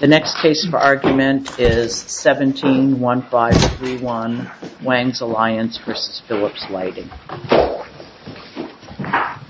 The next case for argument is 17-1531 Wangs Alliance v. Philips Lighting North America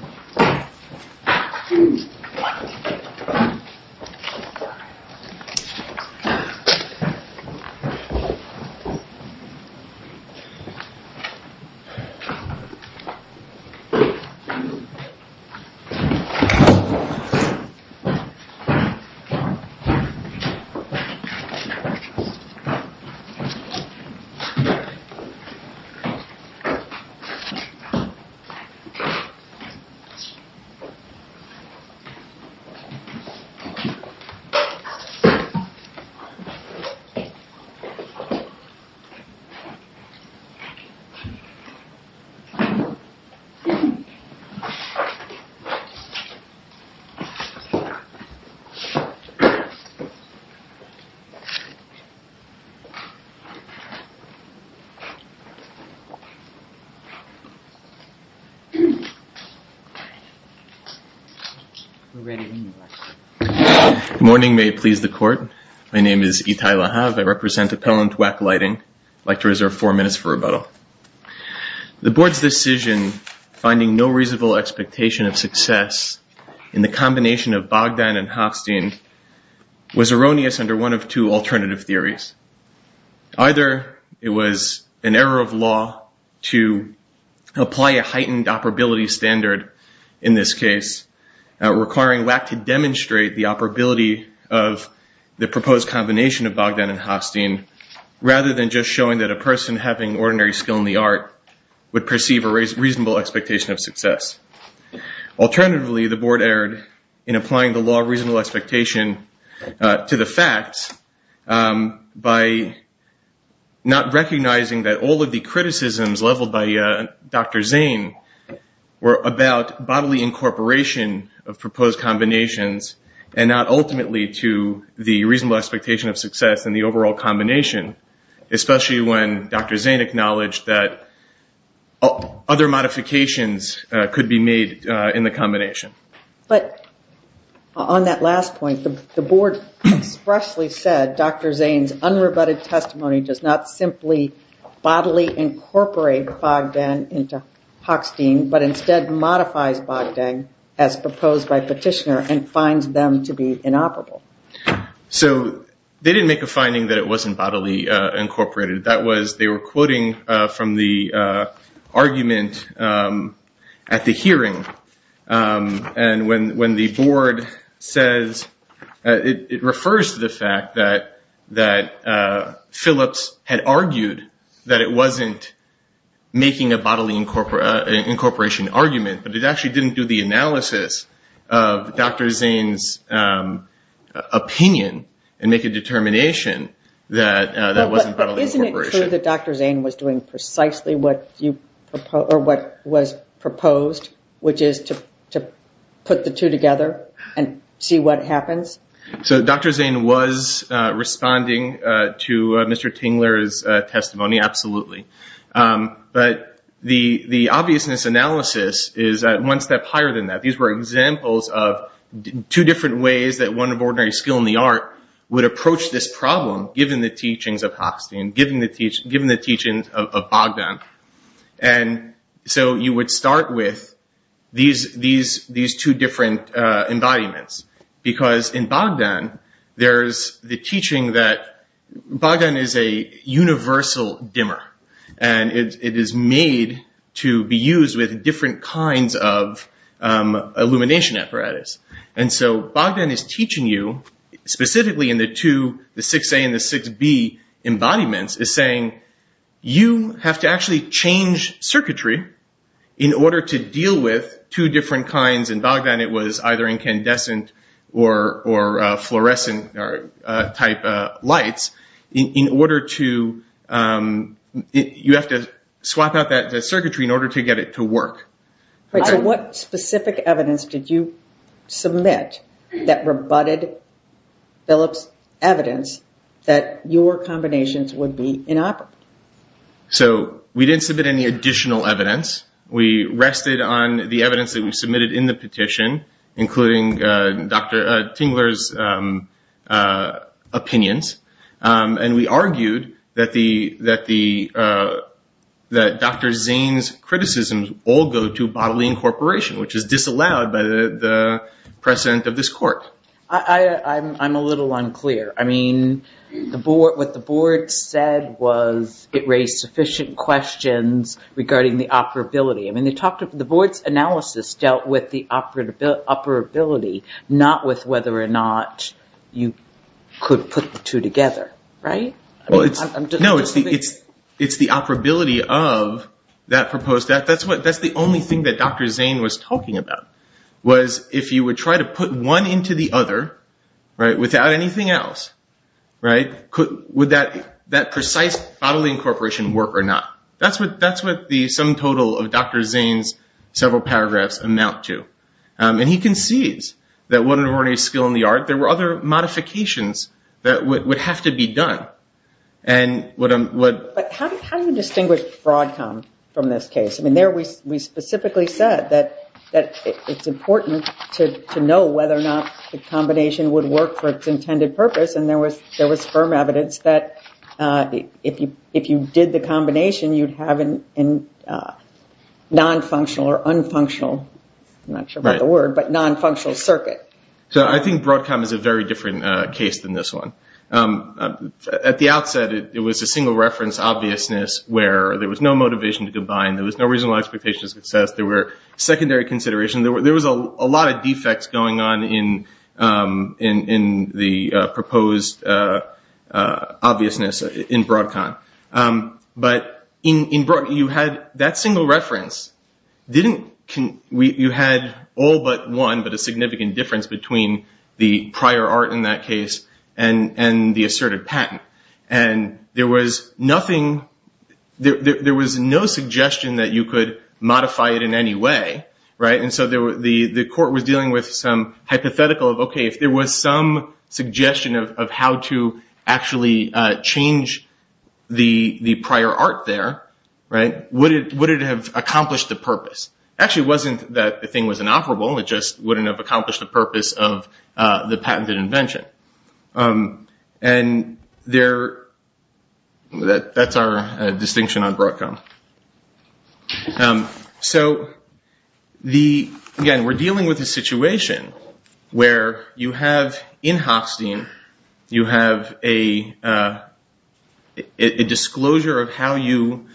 Good morning. May it please the court. My name is Itai Lahav. I represent Appellant Wack Lighting. I'd like to reserve four minutes for rebuttal. The board's decision finding no reasonable expectation of success in the combination of Bogdan and Hofstein was erroneous under one of two alternative theories. Either it was an error of law to apply a heightened operability standard in this case requiring Wack to demonstrate the operability of the proposed combination of Bogdan and Hofstein rather than just showing that a person having ordinary skill in the art would perceive a reasonable expectation of success. Alternatively, the board erred in applying the law of reasonable expectation to the facts by not recognizing that all of the criticisms leveled by Dr. Zane were about bodily incorporation of proposed combinations and not ultimately to the reasonable expectation of success in the overall combination, especially when Dr. Zane acknowledged that other modifications could be made in the combination. But on that last point, the board expressly said Dr. Zane's unrebutted testimony does not simply bodily incorporate Bogdan into Hofstein, but instead modifies Bogdan as proposed by petitioner and finds them to be inoperable. So they didn't make a finding that it wasn't bodily incorporated. They were quoting from the argument at the hearing. And when the board says, it refers to the fact that Phillips had argued that it wasn't making a bodily incorporation argument, but it actually didn't do the analysis of Dr. Zane's opinion and make a determination that that wasn't bodily incorporation. But isn't it true that Dr. Zane was doing precisely what was proposed, which is to put the two together and see what happens? So Dr. Zane was responding to Mr. Tingler's testimony, absolutely. But the obviousness analysis is one step higher than that. These were examples of two different ways that one of ordinary skill in the art would approach this problem, given the teachings of Hofstein, given the teachings of Bogdan. And so you would start with these two different embodiments. Because in Bogdan, there's the teaching that Bogdan is a universal dimmer. And it is made to be used with different kinds of illumination apparatus. And so Bogdan is teaching you, specifically in the two, the 6A and the 6B embodiments, is saying you have to actually change circuitry in order to deal with two different kinds. In Bogdan, it was either incandescent or fluorescent type lights. You have to swap out that circuitry in order to get it to work. So what specific evidence did you submit that rebutted Philip's evidence that your combinations would be inoperable? So we didn't submit any additional evidence. We rested on the evidence that we submitted in the petition, including Dr. Tingler's opinions. And we argued that Dr. Zane's criticisms all go to bodily incorporation, which is disallowed by the precedent of this court. I'm a little unclear. I mean, what the board said was it raised sufficient questions regarding the operability. I mean, the board's analysis dealt with the operability, not with whether or not you could put the two together, right? No, it's the operability of that proposed. That's the only thing that Dr. Zane was talking about, was if you would try to put one into the other, right, without anything else, right, would that precise bodily incorporation work or not? That's what the sum total of Dr. Zane's several paragraphs amount to. And he concedes that when there weren't any skill in the art, there were other modifications that would have to be done. But how do you distinguish Broadcom from this case? I mean, there we specifically said that it's important to know whether or not the combination would work for its intended purpose. And there was firm evidence that if you did the combination, you'd have a nonfunctional or unfunctional, I'm not sure about the word, but nonfunctional circuit. So I think Broadcom is a very different case than this one. At the outset, it was a single reference obviousness where there was no motivation to combine, there was no reasonable expectation of success, there were secondary considerations, there was a lot of defects going on in the proposed obviousness in Broadcom. But in Broadcom, you had that single reference, you had all but one, but a significant difference between the prior art in that case and the asserted patent. And there was no suggestion that you could modify it in any way, right? And so the court was dealing with some hypothetical of, okay, if there was some suggestion of how to actually change the prior art there, would it have accomplished the purpose? Actually, it wasn't that the thing was inoperable, it just wouldn't have accomplished the purpose of the patented invention. And that's our distinction on Broadcom. So, again, we're dealing with a situation where you have, in Hofstein, you have a disclosure of how you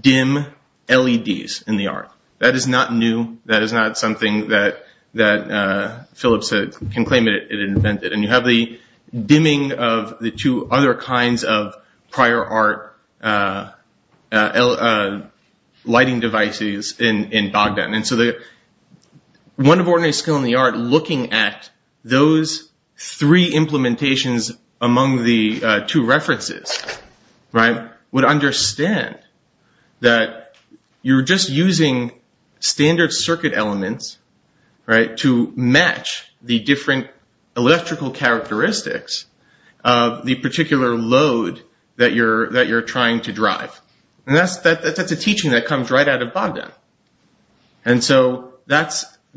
dim LEDs in the art. That is not new, that is not something that Phillips can claim it invented. And you have the dimming of the two other kinds of prior art lighting devices in Bogdan. And so the one of ordinary skill in the art looking at those three implementations among the two references, would understand that you're just using standard circuit elements to match the different electrical characteristics of the particular load that you're trying to drive. And that's a teaching that comes right out of Bogdan. And so that's why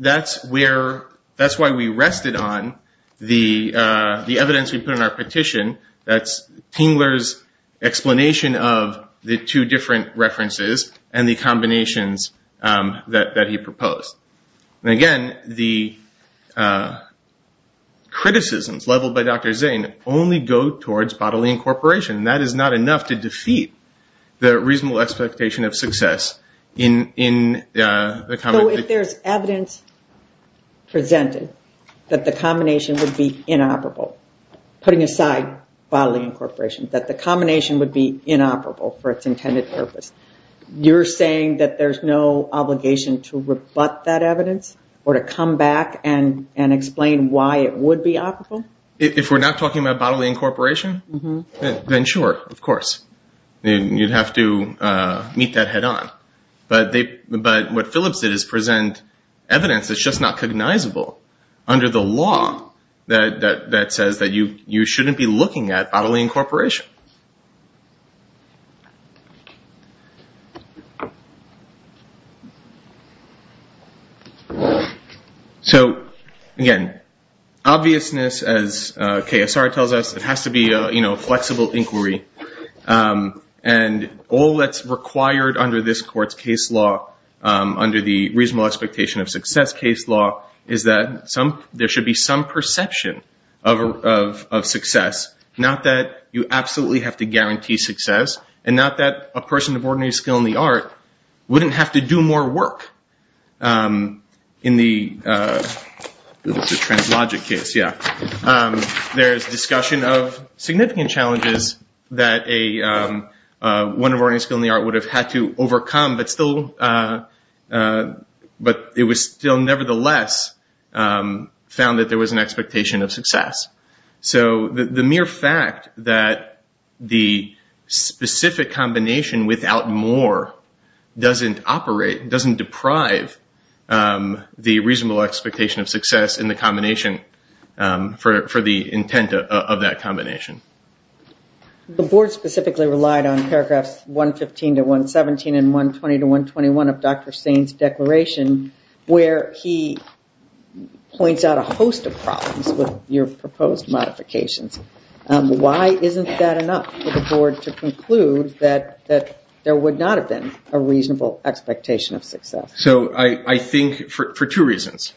we rested on the evidence we put in our petition, that's Tingler's explanation of the two different references and the combinations that he proposed. And again, the criticisms leveled by Dr. Zane only go towards bodily incorporation. That is not enough to defeat the reasonable expectation of success in the... bodily incorporation, that the combination would be inoperable for its intended purpose. You're saying that there's no obligation to rebut that evidence or to come back and explain why it would be operable? If we're not talking about bodily incorporation, then sure, of course, you'd have to meet that head on. But what Phillips did is present evidence that's just not cognizable under the law that says that you shouldn't be looking at bodily incorporation. So again, obviousness, as KSR tells us, it has to be a flexible inquiry. And all that's required under this court's case law, under the reasonable expectation of success case law, is that there should be some perception of success. Not that you absolutely have to guarantee success, and not that a person of ordinary skill in the art wouldn't have to do more work. In the translogic case, yeah. There's discussion of significant challenges that one of ordinary skill in the art would have had to overcome, but it was still nevertheless found that there was an expectation of success. So the mere fact that the specific combination without more doesn't operate, doesn't deprive the reasonable expectation of success in the combination for the intent of that combination. The board specifically relied on paragraphs 115 to 117 and 120 to 121 of Dr. Sain's declaration, where he points out a host of problems with your proposed modifications. Why isn't that enough for the board to conclude that there would not have been a reasonable expectation of success? So I think for two reasons.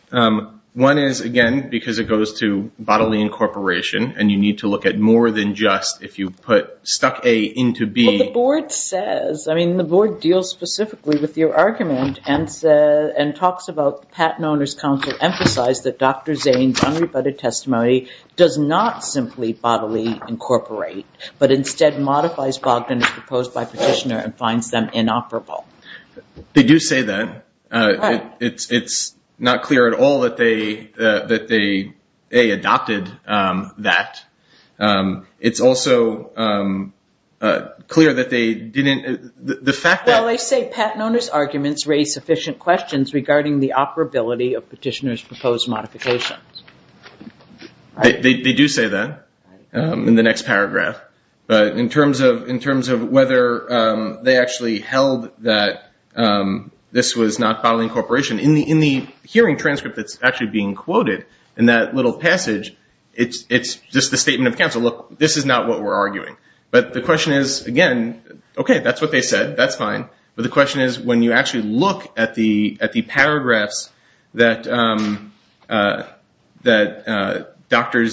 One is, again, because it goes to bodily incorporation, and you need to look at more than just if you put stuck A into B. Well, the board says, I mean, the board deals specifically with your argument and talks about patent owner's counsel emphasized that Dr. Sain's unrebutted testimony does not simply bodily incorporate, but instead modifies Bogdan's proposed by petitioner and finds them inoperable. They do say that. It's not clear at all that they, A, adopted that. It's also clear that they didn't. Well, they say patent owner's arguments raise sufficient questions regarding the operability of petitioner's proposed modifications. They do say that in the next paragraph. But in terms of whether they actually held that this was not bodily incorporation, in the hearing transcript that's actually being quoted in that little passage, it's just the statement of counsel. Look, this is not what we're arguing. But the question is, again, okay, that's what they said. That's fine. But the question is, when you actually look at the paragraphs that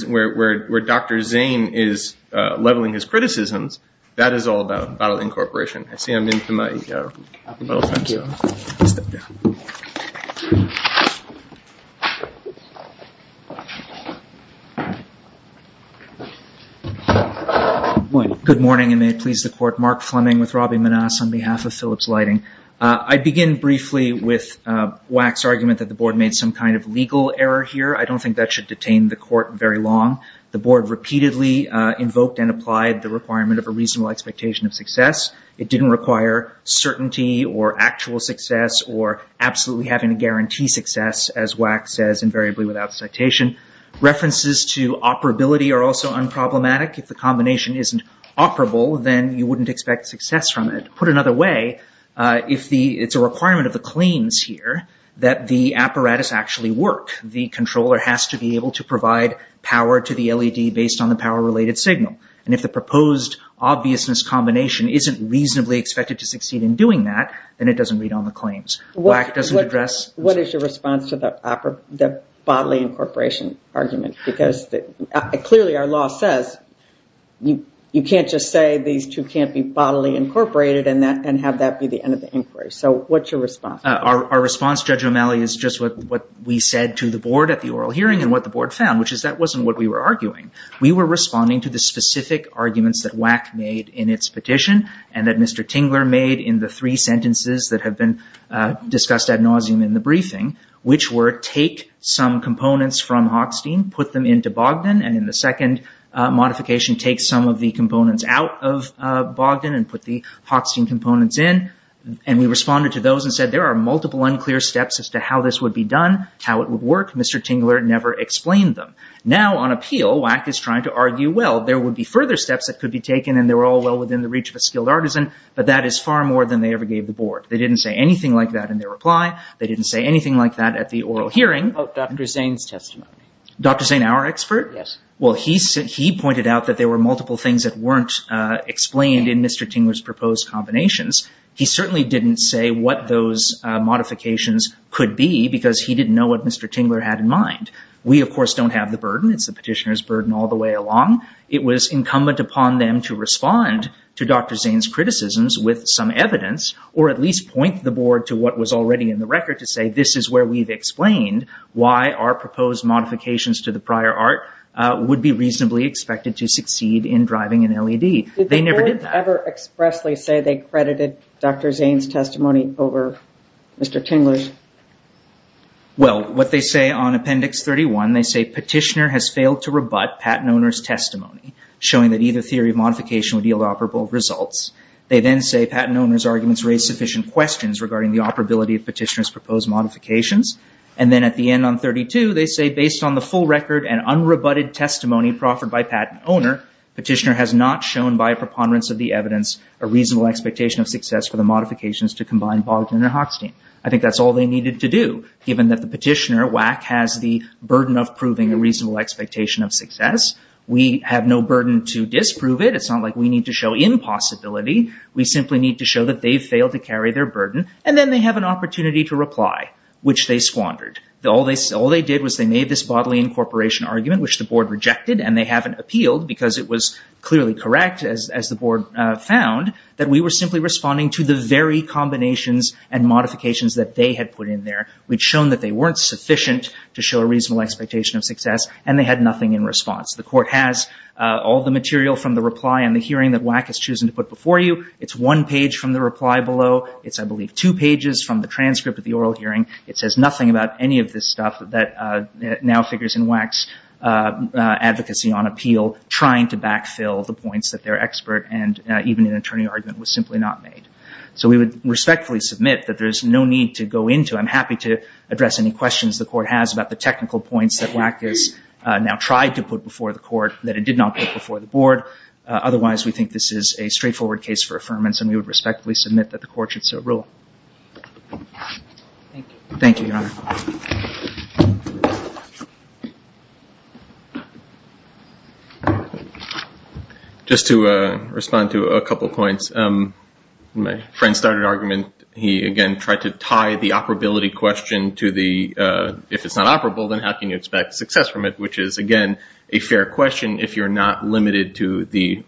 where Dr. Sain is leveling his criticisms, that is all about bodily incorporation. Good morning, and may it please the Court. Mark Fleming with Robbie Manasse on behalf of Phillips Lighting. I begin briefly with Wack's argument that the Board made some kind of legal error here. I don't think that should detain the Court very long. The Board repeatedly invoked and applied the requirement of a reasonable expectation of success. It didn't require certainty or actual success or absolutely having to guarantee success, as Wack says invariably without citation. References to operability are also unproblematic. If the combination isn't operable, then you wouldn't expect success from it. Put another way, it's a requirement of the claims here that the apparatus actually work. The controller has to be able to provide power to the LED based on the power-related signal. And if the proposed obviousness combination isn't reasonably expected to succeed in doing that, then it doesn't read on the claims. Wack doesn't address- What is your response to the bodily incorporation argument? Because clearly our law says you can't just say these two can't be bodily incorporated and have that be the end of the inquiry. So what's your response? Our response, Judge O'Malley, is just what we said to the Board at the oral hearing and what the Board found, which is that wasn't what we were arguing. We were responding to the specific arguments that Wack made in its petition and that Mr. Tingler made in the three sentences that have been discussed ad nauseum in the briefing, which were take some components from Hochstein, put them into Bogdan, and in the second modification take some of the components out of Bogdan and put the Hochstein components in. And we responded to those and said there are multiple unclear steps as to how this would be done, how it would work. Mr. Tingler never explained them. Now on appeal, Wack is trying to argue, well, there would be further steps that could be taken and they were all well within the reach of a skilled artisan, but that is far more than they ever gave the Board. They didn't say anything like that in their reply. They didn't say anything like that at the oral hearing. What about Dr. Zane's testimony? Dr. Zane, our expert? Yes. Well, he pointed out that there were multiple things that weren't explained in Mr. Tingler's proposed combinations. He certainly didn't say what those modifications could be because he didn't know what Mr. Tingler had in mind. We, of course, don't have the burden. It's the petitioner's burden all the way along. It was incumbent upon them to respond to Dr. Zane's criticisms with some evidence or at least point the Board to what was already in the record to say this is where we've explained why our proposed modifications to the prior art would be reasonably expected to succeed in driving an LED. They never did that. Did the Board ever expressly say they credited Dr. Zane's testimony over Mr. Tingler's? Well, what they say on Appendix 31, they say petitioner has failed to rebut patent owner's testimony showing that either theory of modification would yield operable results. They then say patent owner's arguments raise sufficient questions regarding the operability of petitioner's proposed modifications. And then at the end on 32, they say based on the full record and unrebutted testimony proffered by patent owner, petitioner has not shown by a preponderance of the evidence a reasonable expectation of success for the modifications to combine Bogdan and Hochstein. I think that's all they needed to do given that the petitioner, WAC, has the burden of proving a reasonable expectation of success. We have no burden to disprove it. It's not like we need to show impossibility. We simply need to show that they've failed to carry their burden and then they have an opportunity to reply, which they squandered. All they did was they made this bodily incorporation argument, which the Board rejected and they haven't appealed because it was clearly correct, as the Board found, that we were simply responding to the very combinations and modifications that they had put in there. We'd shown that they weren't sufficient to show a reasonable expectation of success and they had nothing in response. The Court has all the material from the reply and the hearing that WAC has chosen to put before you. It's one page from the reply below. It's, I believe, two pages from the transcript of the oral hearing. It says nothing about any of this stuff that now figures in WAC's advocacy on appeal, trying to backfill the points that their expert and even an attorney argument was simply not made. So we would respectfully submit that there's no need to go into. I'm happy to address any questions the Court has about the technical points that WAC has now tried to put before the Court that it did not put before the Board. Otherwise, we think this is a straightforward case for affirmance and we would respectfully submit that the Court should so rule. Thank you. Thank you, Your Honor. Just to respond to a couple points, my friend started an argument. He, again, tried to tie the operability question to the if it's not operable, then how can you expect success from it, which is, again, a fair question if you're not limited to the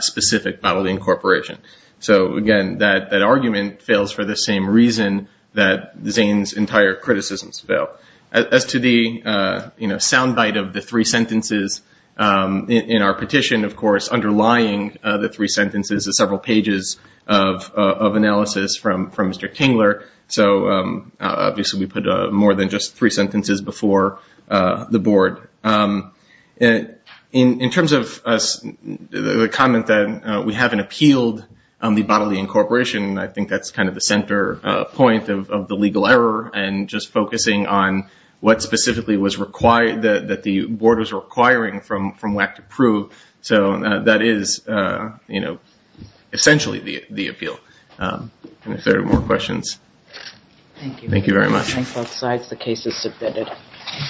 specific bodily incorporation. So, again, that argument fails for the same reason that Zane's entire criticisms fail. As to the sound bite of the three sentences in our petition, of course, underlying the three sentences is several pages of analysis from Mr. Kingler. So obviously we put more than just three sentences before the Board. In terms of the comment that we haven't appealed the bodily incorporation, I think that's kind of the center point of the legal error and just focusing on what specifically that the Board is requiring from WAC to prove. So that is essentially the appeal. If there are no more questions. Thank you. Thank you very much. Thank both sides. The case is submitted.